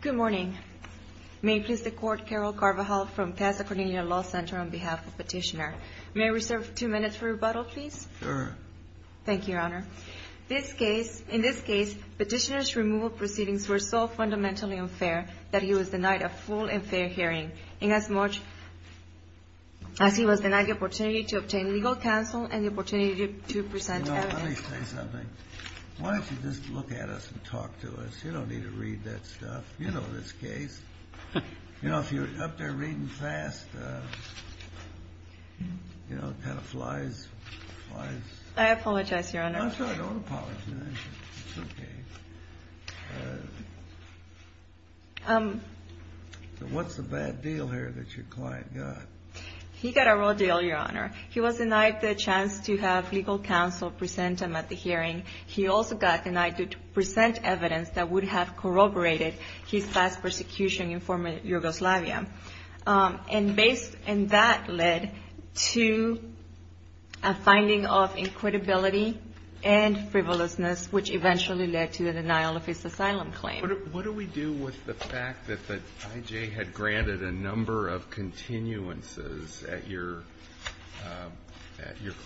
Good morning. May it please the Court, Carol Carvajal from Pasa Cornelia Law Center on behalf of Petitioner. May we reserve two minutes for rebuttal, please? Thank you, Your Honor. In this case, Petitioner's removal proceedings were so fundamentally unfair that he was denied a full and fair hearing, inasmuch as he was denied the opportunity to obtain legal counsel and the opportunity to present evidence. Let me say something. Why don't you just look at us and talk to us? You don't need to read that stuff. You know this case. If you're up there reading fast, it kind of flies. I apologize, Your Honor. I'm not sure I don't apologize. It's okay. So what's the bad deal here that your client got? He got a real deal, Your Honor. He was denied the chance to have legal counsel present him at the hearing. He also got denied to present evidence that would have corroborated his past persecution in former Yugoslavia. And that led to a finding of inquitability and frivolousness, which eventually led to the denial of his asylum claim. What do we do with the fact that the I.J. had granted a number of continuances at your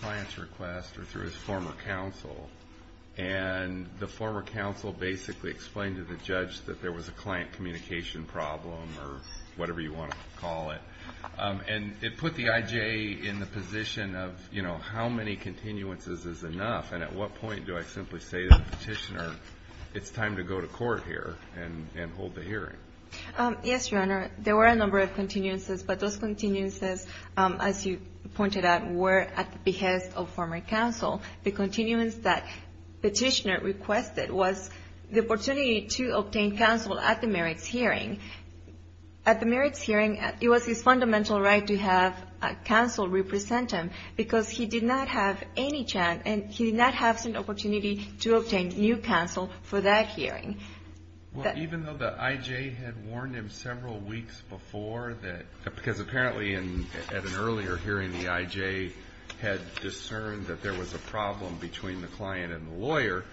client's request or through his former counsel, and the former counsel basically explained to the judge that there was a client communication problem or whatever you want to call it. And it put the I.J. in the position of, you know, how many continuances is enough? And at what point do I simply say to the petitioner, it's time to go to court here and hold the hearing? Yes, Your Honor. There were a number of continuances, but those continuances, as you pointed out, were at the behest of former counsel. The continuance that the petitioner requested was the opportunity to obtain counsel at the merits hearing. At the merits hearing, it was his fundamental right to have counsel represent him, because he did not have any chance and he did not have an opportunity to obtain new counsel for that hearing. Well, even though the I.J. had warned him several weeks before, because apparently at an earlier hearing, the I.J. had discerned that there was a problem between the client and the lawyer,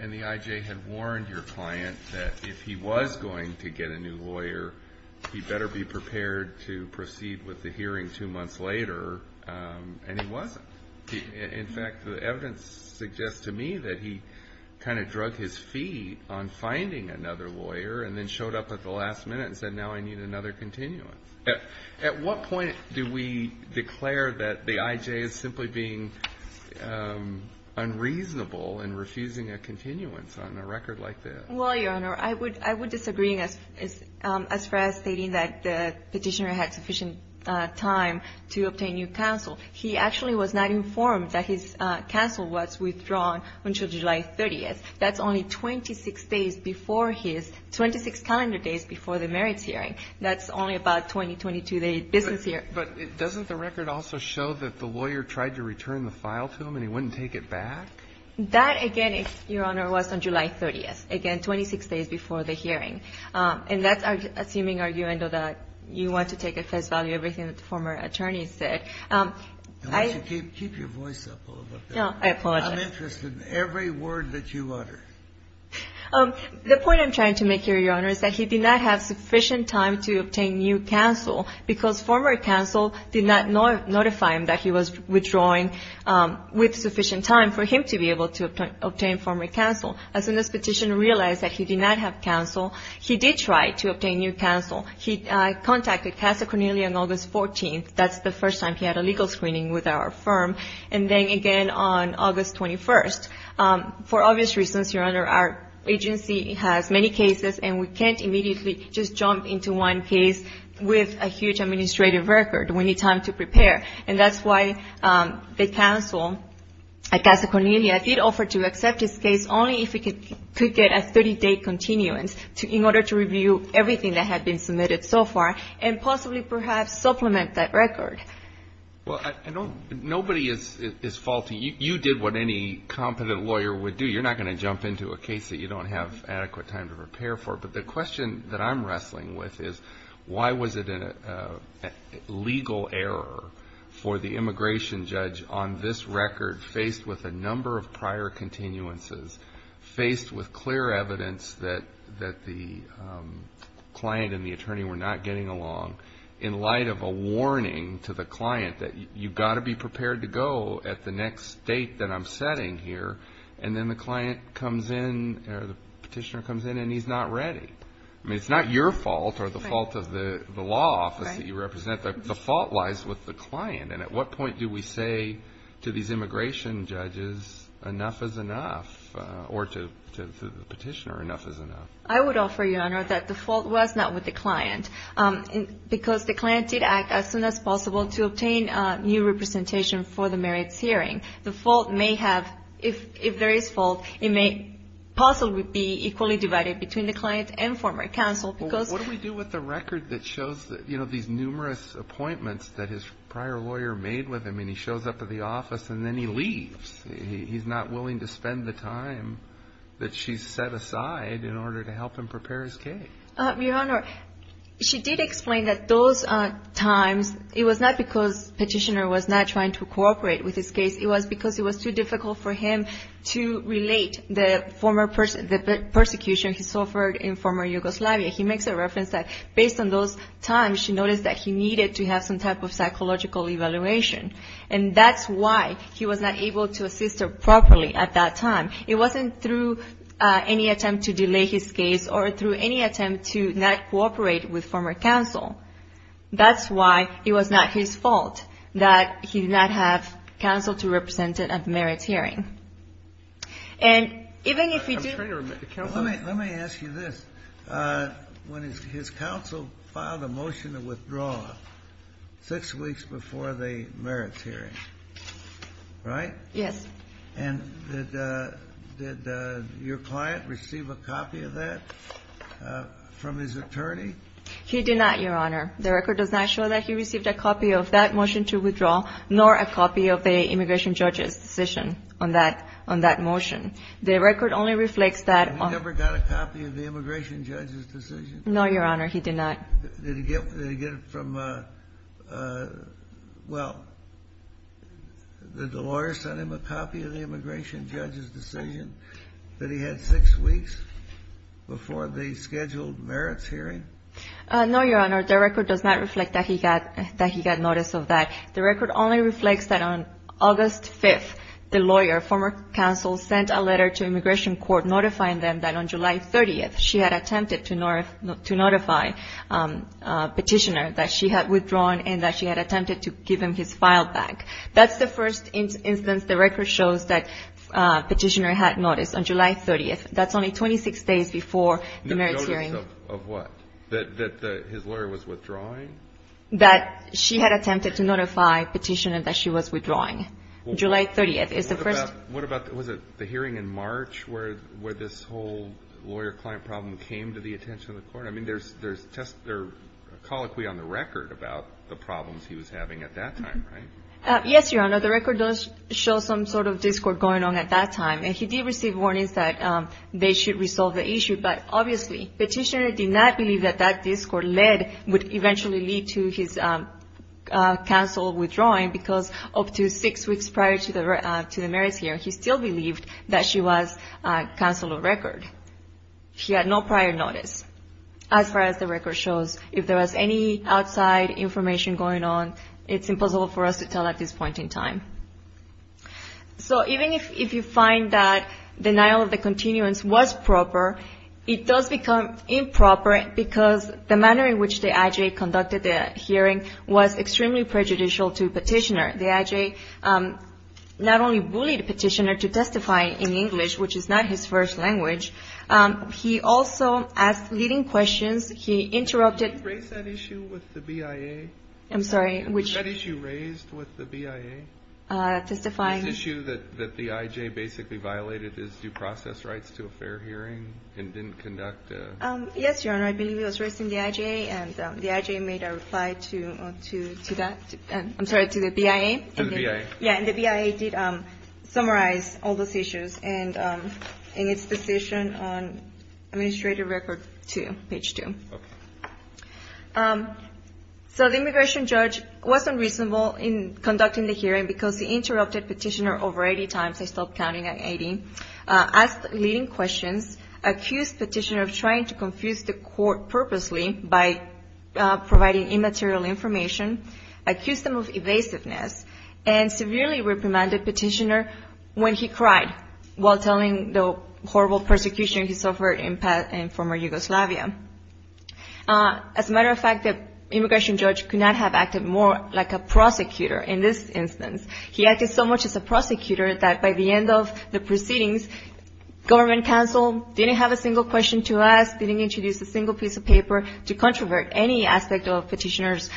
and the I.J. had warned your client that if he was going to get a new lawyer, he better be prepared to proceed with the hearing two months later, and he wasn't. In fact, the evidence suggests to me that he kind of drug his feet on finding another lawyer and then showed up at the last minute and said, now I need another continuance. At what point do we declare that the I.J. is simply being unreasonable in refusing a continuance on a record like this? Well, Your Honor, I would disagree as far as stating that the petitioner had sufficient time to obtain new counsel. He actually was not informed that his counsel was withdrawn until July 30th. That's only 26 days before his 26 calendar days before the merits hearing. That's only about 20, 22-day business here. But doesn't the record also show that the lawyer tried to return the file to him and he wouldn't take it back? That, again, Your Honor, was on July 30th. Again, 26 days before the hearing. And that's our assuming argument that you want to take at face value everything that the former attorney said. Keep your voice up a little bit. No, I apologize. I'm interested in every word that you utter. The point I'm trying to make here, Your Honor, is that he did not have sufficient time to obtain new counsel because former counsel did not notify him that he was withdrawing with sufficient time for him to be able to obtain former counsel. As soon as the petitioner realized that he did not have counsel, he did try to obtain new counsel. He contacted Casa Cornelia on August 14th. That's the first time he had a legal screening with our firm. And then again on August 21st. For obvious reasons, Your Honor, our agency has many cases, and we can't immediately just jump into one case with a huge administrative record. We need time to prepare. And that's why the counsel at Casa Cornelia did offer to accept his case only if he could get a 30-day continuance in order to review everything that had been submitted so far and possibly perhaps supplement that record. Well, nobody is faulty. I mean, you did what any competent lawyer would do. You're not going to jump into a case that you don't have adequate time to prepare for. But the question that I'm wrestling with is why was it a legal error for the immigration judge on this record, faced with a number of prior continuances, faced with clear evidence that the client and the attorney were not getting along, in light of a warning to the client that you've got to be prepared to go at the next date that I'm setting here. And then the client comes in or the petitioner comes in and he's not ready. I mean, it's not your fault or the fault of the law office that you represent. The fault lies with the client. And at what point do we say to these immigration judges enough is enough or to the petitioner enough is enough? I would offer, Your Honor, that the fault was not with the client. Because the client did act as soon as possible to obtain new representation for the merits hearing. The fault may have, if there is fault, it may possibly be equally divided between the client and former counsel. What do we do with the record that shows these numerous appointments that his prior lawyer made with him and he shows up at the office and then he leaves? He's not willing to spend the time that she's set aside in order to help him prepare his case. Your Honor, she did explain that those times, it was not because the petitioner was not trying to cooperate with his case. It was because it was too difficult for him to relate the persecution he suffered in former Yugoslavia. He makes a reference that based on those times, she noticed that he needed to have some type of psychological evaluation. And that's why he was not able to assist her properly at that time. It wasn't through any attempt to delay his case or through any attempt to not cooperate with former counsel. That's why it was not his fault that he did not have counsel to represent him at the merits hearing. And even if he did... Let me ask you this. When his counsel filed a motion to withdraw six weeks before the merits hearing, right? Yes. And did your client receive a copy of that from his attorney? He did not, Your Honor. The record does not show that he received a copy of that motion to withdraw nor a copy of the immigration judge's decision on that motion. The record only reflects that... He never got a copy of the immigration judge's decision? No, Your Honor, he did not. Did he get it from... Well, did the lawyer send him a copy of the immigration judge's decision that he had six weeks before the scheduled merits hearing? No, Your Honor. The record does not reflect that he got notice of that. The record only reflects that on August 5th, the lawyer, former counsel, sent a letter to immigration court notifying them that on July 30th, she had attempted to notify Petitioner that she had withdrawn and that she had attempted to give him his file back. That's the first instance the record shows that Petitioner had noticed on July 30th. That's only 26 days before the merits hearing. Notice of what? That his lawyer was withdrawing? That she had attempted to notify Petitioner that she was withdrawing. July 30th is the first... What about the hearing in March where this whole lawyer-client problem came to the attention of the court? I mean, there's a colloquy on the record about the problems he was having at that time, right? Yes, Your Honor, the record does show some sort of discord going on at that time, and he did receive warnings that they should resolve the issue, but obviously Petitioner did not believe that that discord would eventually lead to his counsel withdrawing because up to six weeks prior to the merits hearing, he still believed that she was counsel of record. He had no prior notice. As far as the record shows, if there was any outside information going on, it's impossible for us to tell at this point in time. So even if you find that denial of the continuance was proper, it does become improper because the manner in which the IJA conducted the hearing was extremely prejudicial to Petitioner. The IJA not only bullied Petitioner to testify in English, which is not his first language, he also asked leading questions. He interrupted... Did you raise that issue with the BIA? I'm sorry, which... Was that issue raised with the BIA? Testifying... This issue that the IJA basically violated his due process rights to a fair hearing and didn't conduct a... Yes, Your Honor. I believe it was raised in the IJA, and the IJA made a reply to that. I'm sorry, to the BIA. To the BIA. Yeah, and the BIA did summarize all those issues in its decision on Administrative Record 2, page 2. Okay. So the immigration judge was unreasonable in conducting the hearing because he interrupted Petitioner over 80 times. I stopped counting at 80. asked leading questions, accused Petitioner of trying to confuse the court purposely by providing immaterial information, accused him of evasiveness, and severely reprimanded Petitioner when he cried while telling the horrible persecution he suffered in former Yugoslavia. As a matter of fact, the immigration judge could not have acted more like a prosecutor in this instance. He acted so much as a prosecutor that by the end of the proceedings, government counsel didn't have a single question to ask, didn't introduce a single piece of paper to controvert any aspect of Petitioner's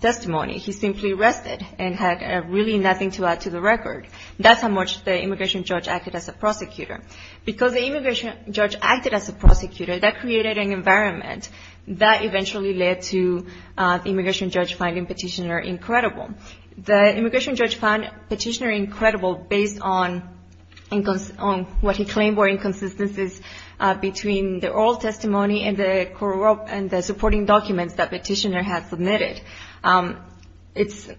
testimony. He simply rested and had really nothing to add to the record. That's how much the immigration judge acted as a prosecutor. Because the immigration judge acted as a prosecutor, that created an environment that eventually led to the immigration judge finding Petitioner incredible. The immigration judge found Petitioner incredible based on what he claimed were inconsistencies between the oral testimony and the supporting documents that Petitioner had submitted.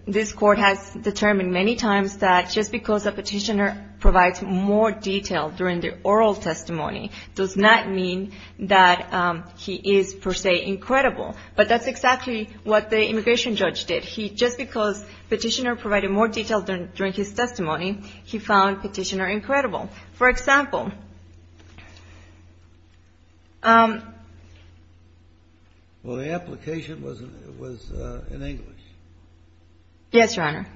This court has determined many times that just because a petitioner provides more detail during the oral testimony does not mean that he is, per se, incredible. But that's exactly what the immigration judge did. He, just because Petitioner provided more detail during his testimony, he found Petitioner incredible. For example. Well, the application was in English. Yes, Your Honor.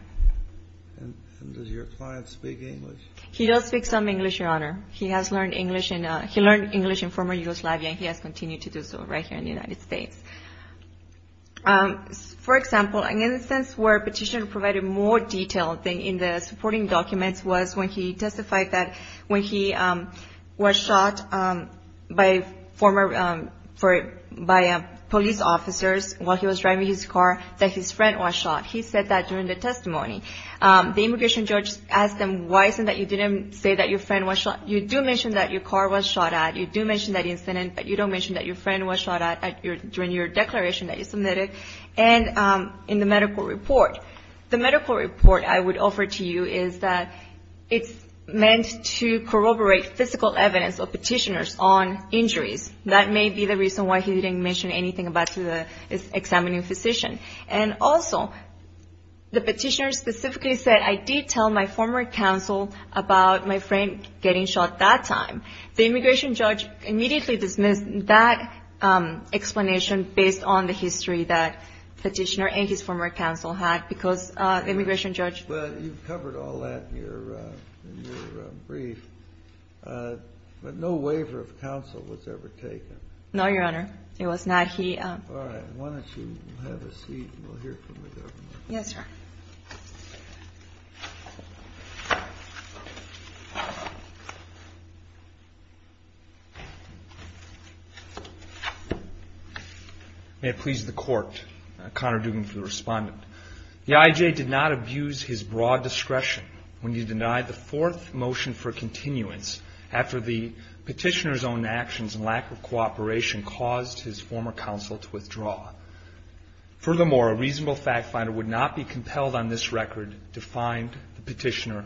And does your client speak English? He does speak some English, Your Honor. He has learned English in former Yugoslavia, and he has continued to do so right here in the United States. For example, an instance where Petitioner provided more detail in the supporting documents was when he testified that when he was shot by police officers while he was driving his car, that his friend was shot. He said that during the testimony. The immigration judge asked him, why is it that you didn't say that your friend was shot? You do mention that your car was shot at. You do mention that incident, but you don't mention that your friend was shot at during your declaration that you submitted. And in the medical report. The medical report I would offer to you is that it's meant to corroborate physical evidence of Petitioner's own injuries. That may be the reason why he didn't mention anything about his examining physician. And also, the Petitioner specifically said, I did tell my former counsel about my friend getting shot that time. The immigration judge immediately dismissed that explanation based on the history that Petitioner and his former counsel had. Because the immigration judge. Well, you've covered all that in your brief. But no waiver of counsel was ever taken. No, Your Honor. It was not. Why don't you have a seat and we'll hear from the governor. Yes, Your Honor. May it please the court. Connor Dugan for the respondent. The IJ did not abuse his broad discretion when he denied the fourth motion for continuance after the Petitioner's own actions and lack of cooperation caused his former counsel to withdraw. Furthermore, a reasonable fact finder would not be compelled on this record to find the Petitioner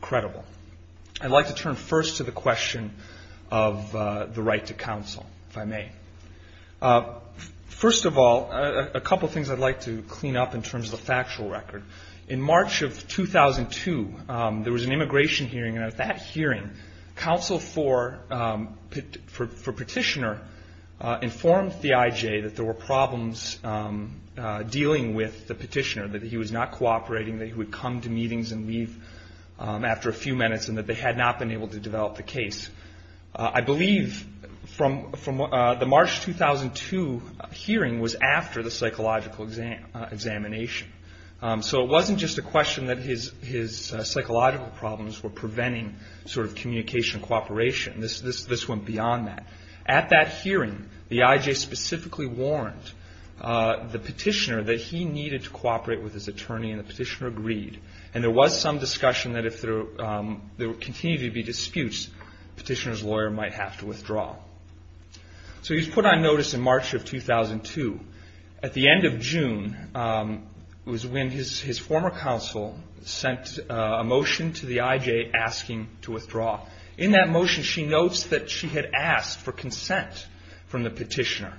credible. I'd like to turn first to the question of the right to counsel, if I may. First of all, a couple of things I'd like to clean up in terms of the factual record. In March of 2002, there was an immigration hearing, and at that hearing, counsel for Petitioner informed the IJ that there were problems dealing with the Petitioner, that he was not cooperating, that he would come to meetings and leave after a few minutes, and that they had not been able to develop the case. I believe the March 2002 hearing was after the psychological examination. So it wasn't just a question that his psychological problems were preventing sort of communication cooperation. This went beyond that. At that hearing, the IJ specifically warned the Petitioner that he needed to cooperate with his attorney, and the Petitioner agreed. And there was some discussion that if there continued to be disputes, Petitioner's lawyer might have to withdraw. So he was put on notice in March of 2002. At the end of June was when his former counsel sent a motion to the IJ asking to withdraw. In that motion, she notes that she had asked for consent from the Petitioner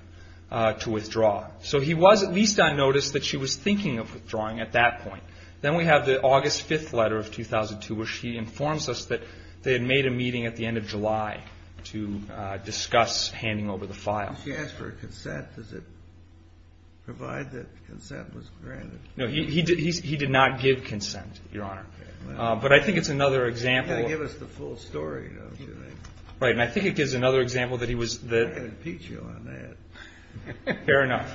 to withdraw. So he was at least on notice that she was thinking of withdrawing at that point. Then we have the August 5th letter of 2002, where she informs us that they had made a meeting at the end of July to discuss handing over the file. If she asked for consent, does it provide that consent was granted? No, he did not give consent, Your Honor. But I think it's another example. You've got to give us the full story, don't you think? Right, and I think it gives another example that he was... I can impeach you on that. Fair enough.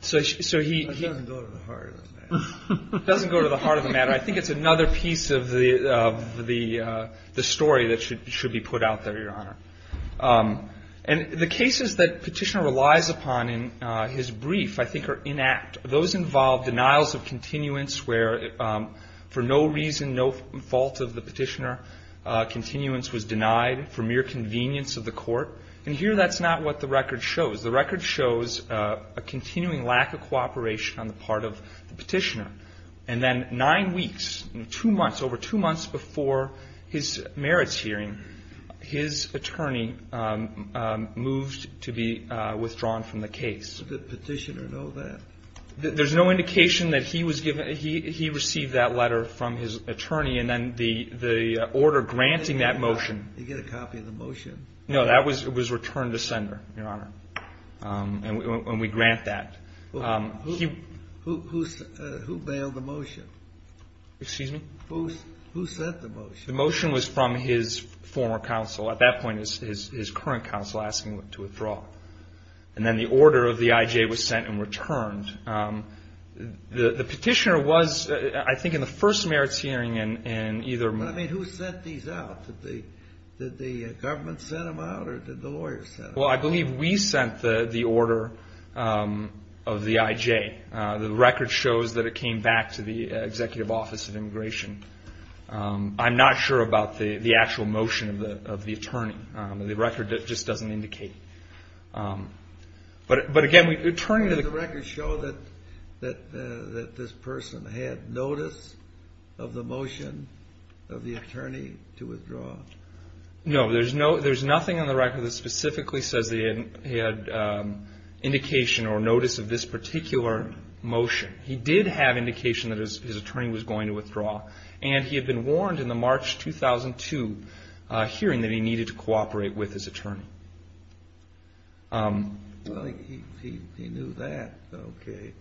That doesn't go to the heart of the matter. It doesn't go to the heart of the matter. I think it's another piece of the story that should be put out there, Your Honor. And the cases that Petitioner relies upon in his brief, I think, are inact. Those involve denials of continuance where for no reason, no fault of the Petitioner, continuance was denied for mere convenience of the court. And here that's not what the record shows. The record shows a continuing lack of cooperation on the part of the Petitioner. And then nine weeks, two months, over two months before his merits hearing, his attorney moved to be withdrawn from the case. Did the Petitioner know that? There's no indication that he received that letter from his attorney and then the order granting that motion. Did he get a copy of the motion? No, that was returned to sender, Your Honor, when we grant that. Who bailed the motion? Excuse me? Who sent the motion? The motion was from his former counsel. At that point, it was his current counsel asking him to withdraw. And then the order of the IJ was sent and returned. The Petitioner was, I think, in the first merits hearing in either month. But, I mean, who sent these out? Did the government send them out or did the lawyers send them out? Well, I believe we sent the order of the IJ. The record shows that it came back to the Executive Office of Immigration. I'm not sure about the actual motion of the attorney. The record just doesn't indicate. But, again, returning to the record shows that this person had notice of the motion of the attorney to withdraw. No, there's nothing on the record that specifically says that he had indication or notice of this particular motion. He did have indication that his attorney was going to withdraw. And he had been warned in the March 2002 hearing that he needed to cooperate with his attorney. Well, he knew that. Okay.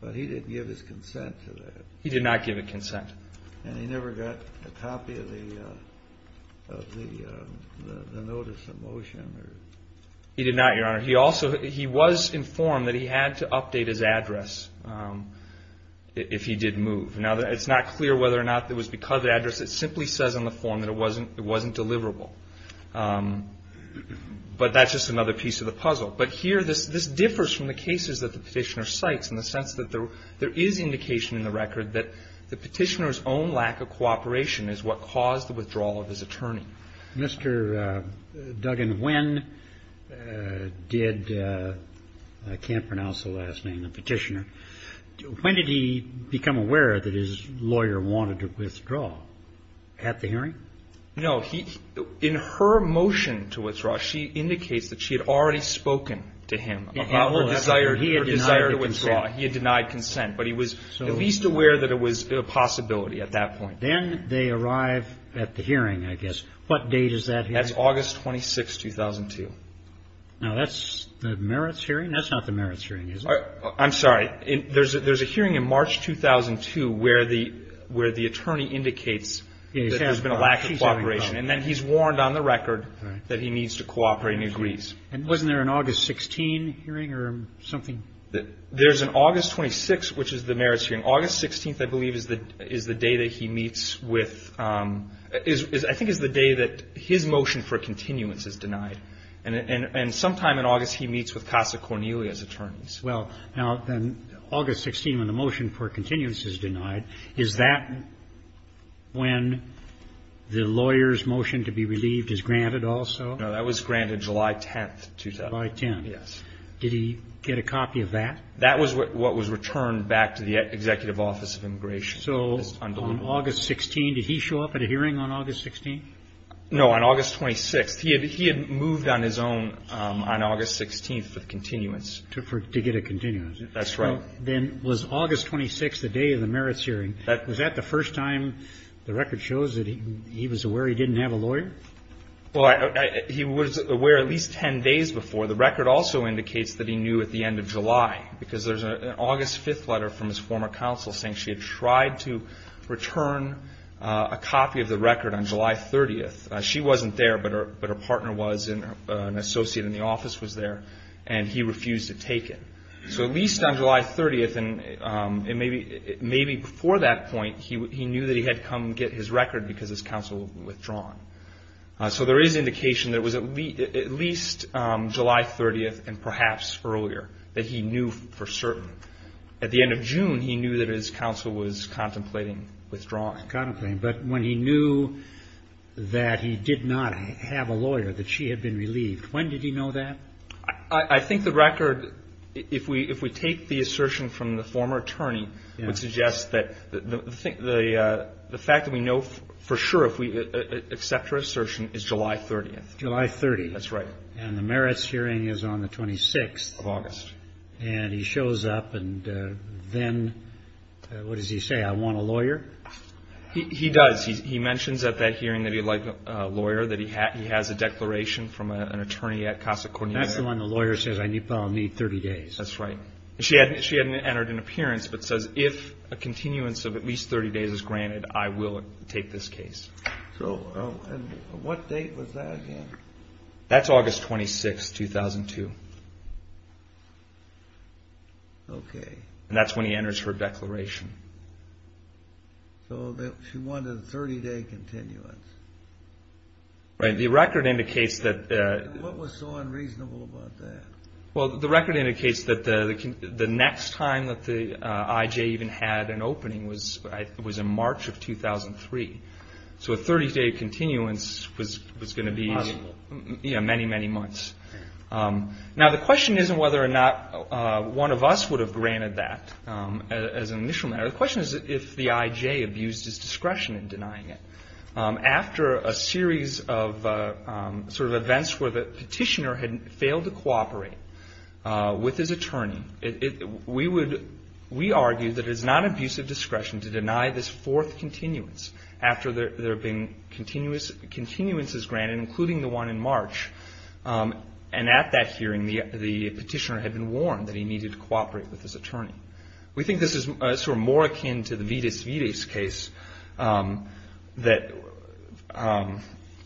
But he didn't give his consent to that. He did not give a consent. And he never got a copy of the notice of motion? He did not, Your Honor. He also, he was informed that he had to update his address if he did move. Now, it's not clear whether or not it was because of the address. It simply says on the form that it wasn't deliverable. But that's just another piece of the puzzle. But here, this differs from the cases that the Petitioner cites in the sense that there is indication in the record that the Petitioner's own lack of cooperation is what caused the withdrawal of his attorney. Mr. Duggan, when did, I can't pronounce the last name of the Petitioner, when did he become aware that his lawyer wanted to withdraw at the hearing? No. In her motion to withdraw, she indicates that she had already spoken to him about her desire to withdraw. He had denied consent. But he was at least aware that it was a possibility at that point. Then they arrive at the hearing, I guess. What date is that hearing? That's August 26, 2002. Now, that's the merits hearing? That's not the merits hearing, is it? I'm sorry. There's a hearing in March 2002 where the attorney indicates that there's been a lack of cooperation. And then he's warned on the record that he needs to cooperate and agrees. And wasn't there an August 16 hearing or something? There's an August 26, which is the merits hearing. August 16, I believe, is the day that he meets with, I think, is the day that his motion for continuance is denied. And sometime in August, he meets with Casa Cornelia's attorneys. Well, now, then, August 16, when the motion for continuance is denied, is that when the lawyer's motion to be relieved is granted also? No, that was granted July 10, 2010. July 10. Yes. Did he get a copy of that? That was what was returned back to the Executive Office of Immigration. So on August 16, did he show up at a hearing on August 16? No, on August 26. He had moved on his own on August 16 for continuance. To get a continuance. That's right. Then was August 26 the day of the merits hearing? Was that the first time the record shows that he was aware he didn't have a lawyer? Well, he was aware at least 10 days before. The record also indicates that he knew at the end of July, because there's an August 5 letter from his former counsel saying she had tried to return a copy of the record on July 30. She wasn't there, but her partner was, and an associate in the office was there, and he refused to take it. So at least on July 30, and maybe before that point, he knew that he had come to get his record because his counsel had withdrawn. So there is indication that it was at least July 30, and perhaps earlier, that he knew for certain. At the end of June, he knew that his counsel was contemplating withdrawing. Contemplating. But when he knew that he did not have a lawyer, that she had been relieved, when did he know that? I think the record, if we take the assertion from the former attorney, would suggest that the fact that we know for sure, if we accept her assertion, is July 30. July 30. That's right. And the merits hearing is on the 26th. Of August. And he shows up, and then, what does he say, I want a lawyer? He does. He mentions at that hearing that he would like a lawyer, that he has a declaration from an attorney at Casa Cornelia. That's the one the lawyer says, I need about 30 days. That's right. She hadn't entered an appearance, but says, if a continuance of at least 30 days is granted, I will take this case. And what date was that again? That's August 26, 2002. Okay. And that's when he enters her declaration. So she wanted a 30-day continuance. Right. The record indicates that. What was so unreasonable about that? Well, the record indicates that the next time that the IJ even had an opening was in March of 2003. So a 30-day continuance was going to be many, many months. Now, the question isn't whether or not one of us would have granted that as an initial matter. The question is if the IJ abused his discretion in denying it. After a series of sort of events where the petitioner had failed to cooperate with his attorney, we would argue that it is not abusive discretion to deny this fourth continuance after there have been continuances granted, including the one in March. And at that hearing, the petitioner had been warned that he needed to cooperate with his attorney. We think this is sort of more akin to the Vides-Vides case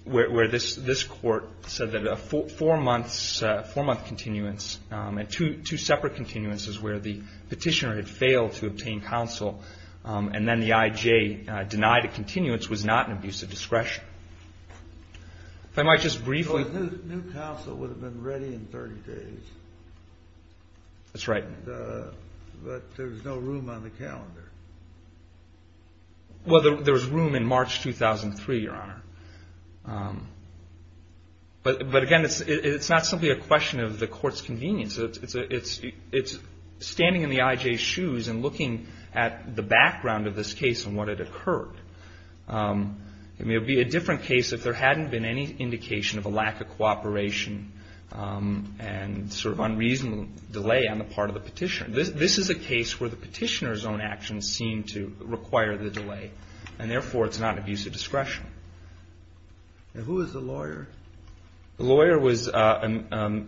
where this court said that a four-month continuance and two separate continuances where the petitioner had failed to obtain counsel and then the IJ denied a continuance was not an abusive discretion. If I might just briefly. So a new counsel would have been ready in 30 days. That's right. But there's no room on the calendar. Well, there was room in March 2003, Your Honor. But again, it's not simply a question of the court's convenience. It's standing in the IJ's shoes and looking at the background of this case and what had occurred. I mean, it would be a different case if there hadn't been any indication of a lack of cooperation and sort of unreasonable delay on the part of the petitioner. This is a case where the petitioner's own actions seem to require the delay, and therefore it's not an abusive discretion. And who was the lawyer? The lawyer was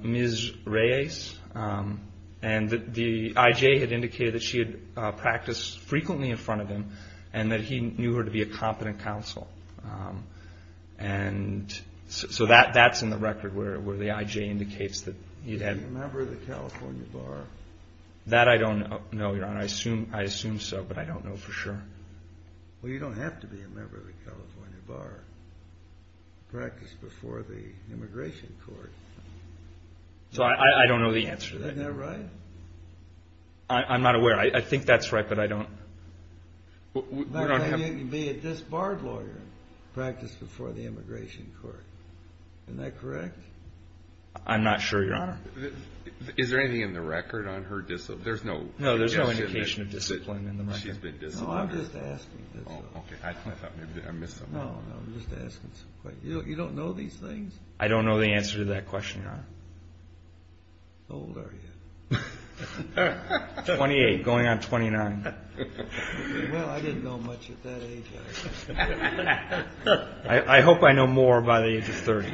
Ms. Reyes. And the IJ had indicated that she had practiced frequently in front of him and that he knew her to be a competent counsel. And so that's in the record where the IJ indicates that he had. Was he a member of the California Bar? That I don't know, Your Honor. I assume so, but I don't know for sure. Well, you don't have to be a member of the California Bar to practice before the immigration court. So I don't know the answer to that. Isn't that right? I'm not aware. I think that's right, but I don't. Maybe it can be a disbarred lawyer practiced before the immigration court. Isn't that correct? I'm not sure, Your Honor. Is there anything in the record on her discipline? No, there's no indication of discipline in the record. No, I'm just asking. Okay, I thought maybe I missed something. No, I'm just asking some questions. You don't know these things? I don't know the answer to that question, Your Honor. How old are you? 28, going on 29. Well, I didn't know much at that age. I hope I know more by the age of 30.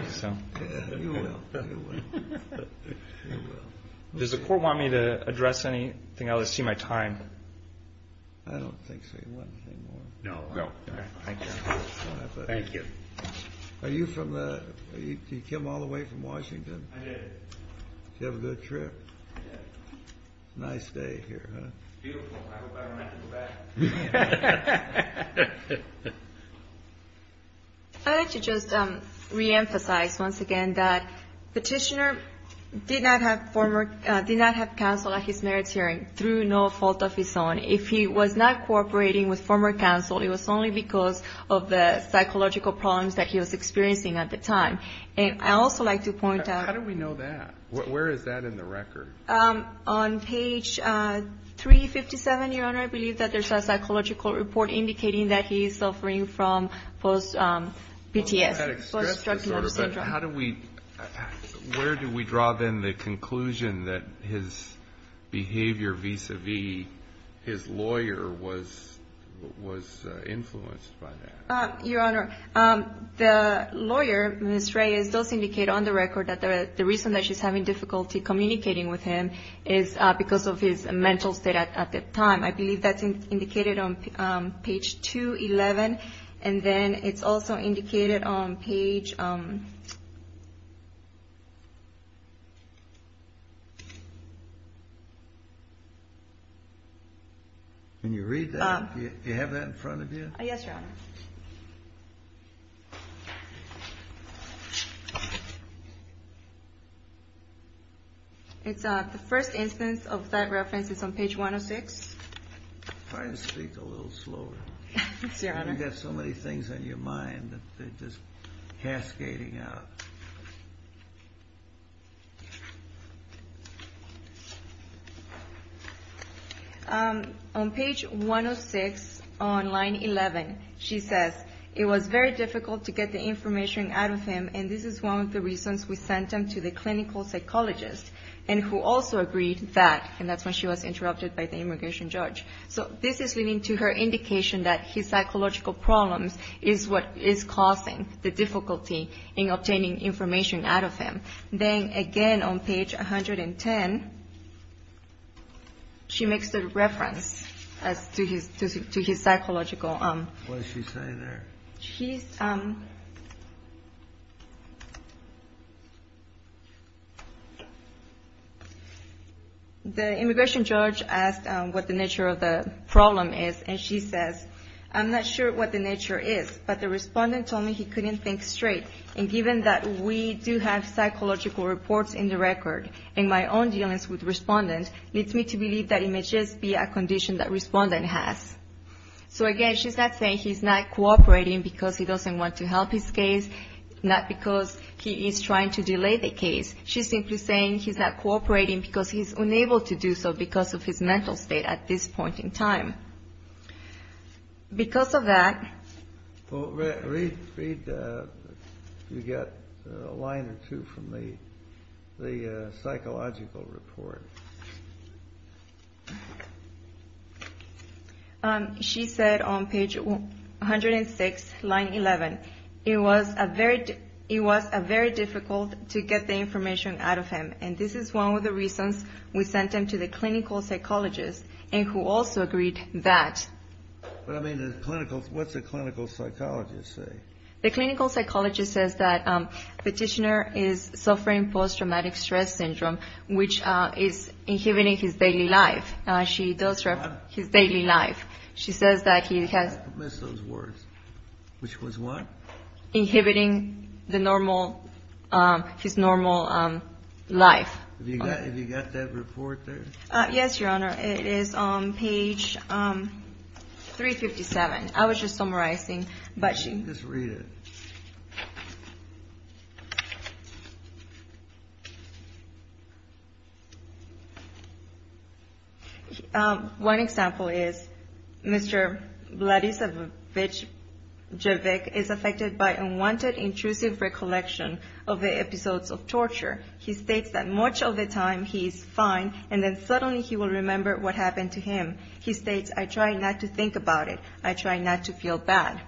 You will, you will. Does the court want me to address anything? I'll just see my time. I don't think so. You want anything more? No. Okay, thank you. Thank you. Are you from the – you came all the way from Washington? I did. Did you have a good trip? I did. Nice day here, huh? Beautiful. I would better not go back. I'd like to just reemphasize once again that Petitioner did not have counsel at his merits hearing through no fault of his own. If he was not cooperating with former counsel, it was only because of the psychological problems that he was experiencing at the time. And I'd also like to point out – How do we know that? Where is that in the record? On page 357, Your Honor, I believe that there's a psychological report indicating that he is suffering from post-PTS. How do we – where do we draw, then, the conclusion that his behavior vis-à-vis his lawyer was influenced by that? Your Honor, the lawyer, Ms. Reyes, does indicate on the record that the reason that she's having difficulty communicating with him is because of his mental state at the time. I believe that's indicated on page 211. And then it's also indicated on page – When you read that, do you have that in front of you? Yes, Your Honor. The first instance of that reference is on page 106. Try to speak a little slower. Yes, Your Honor. You've got so many things on your mind that they're just cascading out. On page 106 on line 11, she says, it was very difficult to get the information out of him, and this is one of the reasons we sent him to the clinical psychologist, and who also agreed that – and that's when she was interrupted by the immigration judge. So this is leading to her indication that his psychological problems is what is causing the difficulty in obtaining information. Then again on page 110, she makes a reference to his psychological – What is she saying there? The immigration judge asked what the nature of the problem is, and she says, I'm not sure what the nature is, but the respondent told me he couldn't think straight, and given that we do have psychological reports in the record, and my own dealings with respondents, leads me to believe that it may just be a condition that respondent has. So again, she's not saying he's not cooperating because he doesn't want to help his case, not because he is trying to delay the case. She's simply saying he's not cooperating because he's unable to do so because of his mental state at this point in time. Because of that – Read if you get a line or two from the psychological report. She said on page 106, line 11, it was very difficult to get the information out of him, and this is one of the reasons we sent him to the clinical psychologist, and who also agreed that – What's the clinical psychologist say? The clinical psychologist says that petitioner is suffering post-traumatic stress syndrome, which is inhibiting his daily life. She does – What? His daily life. She says that he has – I missed those words. Which was what? Inhibiting the normal – his normal life. Have you got that report there? Yes, Your Honor. It is on page 357. I was just summarizing, but she – Just read it. One example is Mr. Vladislav Javik is affected by unwanted intrusive recollection of the episodes of torture. He states that much of the time he's fine, and then suddenly he will remember what happened to him. He states, I try not to think about it. I try not to feel bad.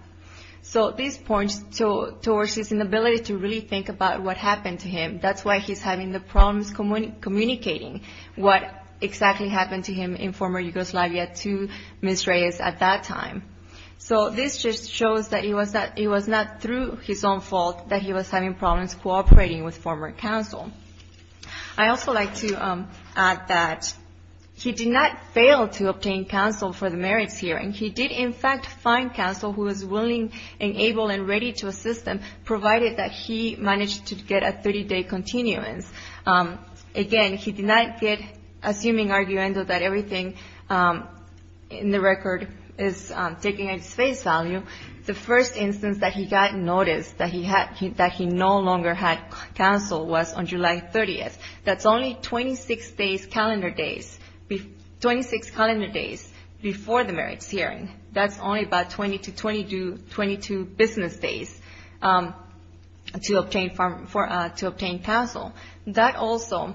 So this points towards his inability to really think about what happened to him. That's why he's having the problems communicating what exactly happened to him in former Yugoslavia to Ms. Reyes at that time. So this just shows that it was not through his own fault that he was having problems cooperating with former counsel. I also like to add that he did not fail to obtain counsel for the merits hearing. He did, in fact, find counsel who was willing and able and ready to assist him, provided that he managed to get a 30-day continuance. Again, he did not get, assuming arguendo that everything in the record is taking its face value, the first instance that he got notice that he no longer had counsel was on July 30th. That's only 26 calendar days before the merits hearing. That's only about 20 to 22 business days to obtain counsel. That also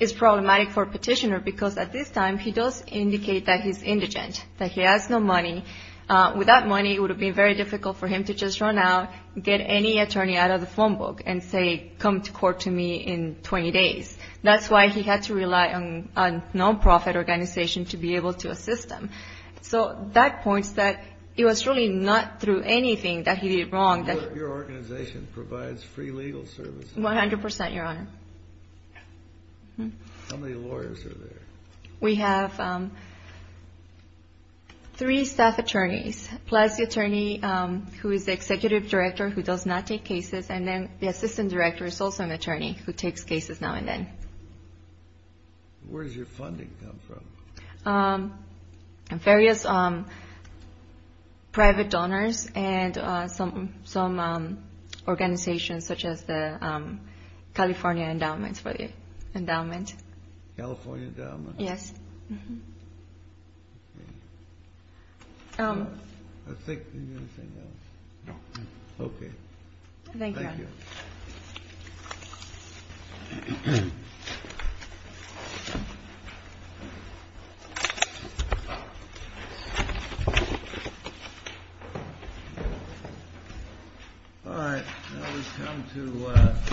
is problematic for petitioner because at this time he does indicate that he's indigent, that he has no money. Without money, it would have been very difficult for him to just run out, get any attorney out of the phone book and say, come to court to me in 20 days. That's why he had to rely on a nonprofit organization to be able to assist him. So that points that it was really not through anything that he did wrong. Your organization provides free legal services. One hundred percent, Your Honor. How many lawyers are there? We have three staff attorneys, plus the attorney who is the executive director who does not take cases, and then the assistant director is also an attorney who takes cases now and then. Where does your funding come from? Various private donors and some organizations such as the California Endowment for the Endowment. California Endowment? Yes. Thank you, Your Honor. Thank you. All right. Now we come to...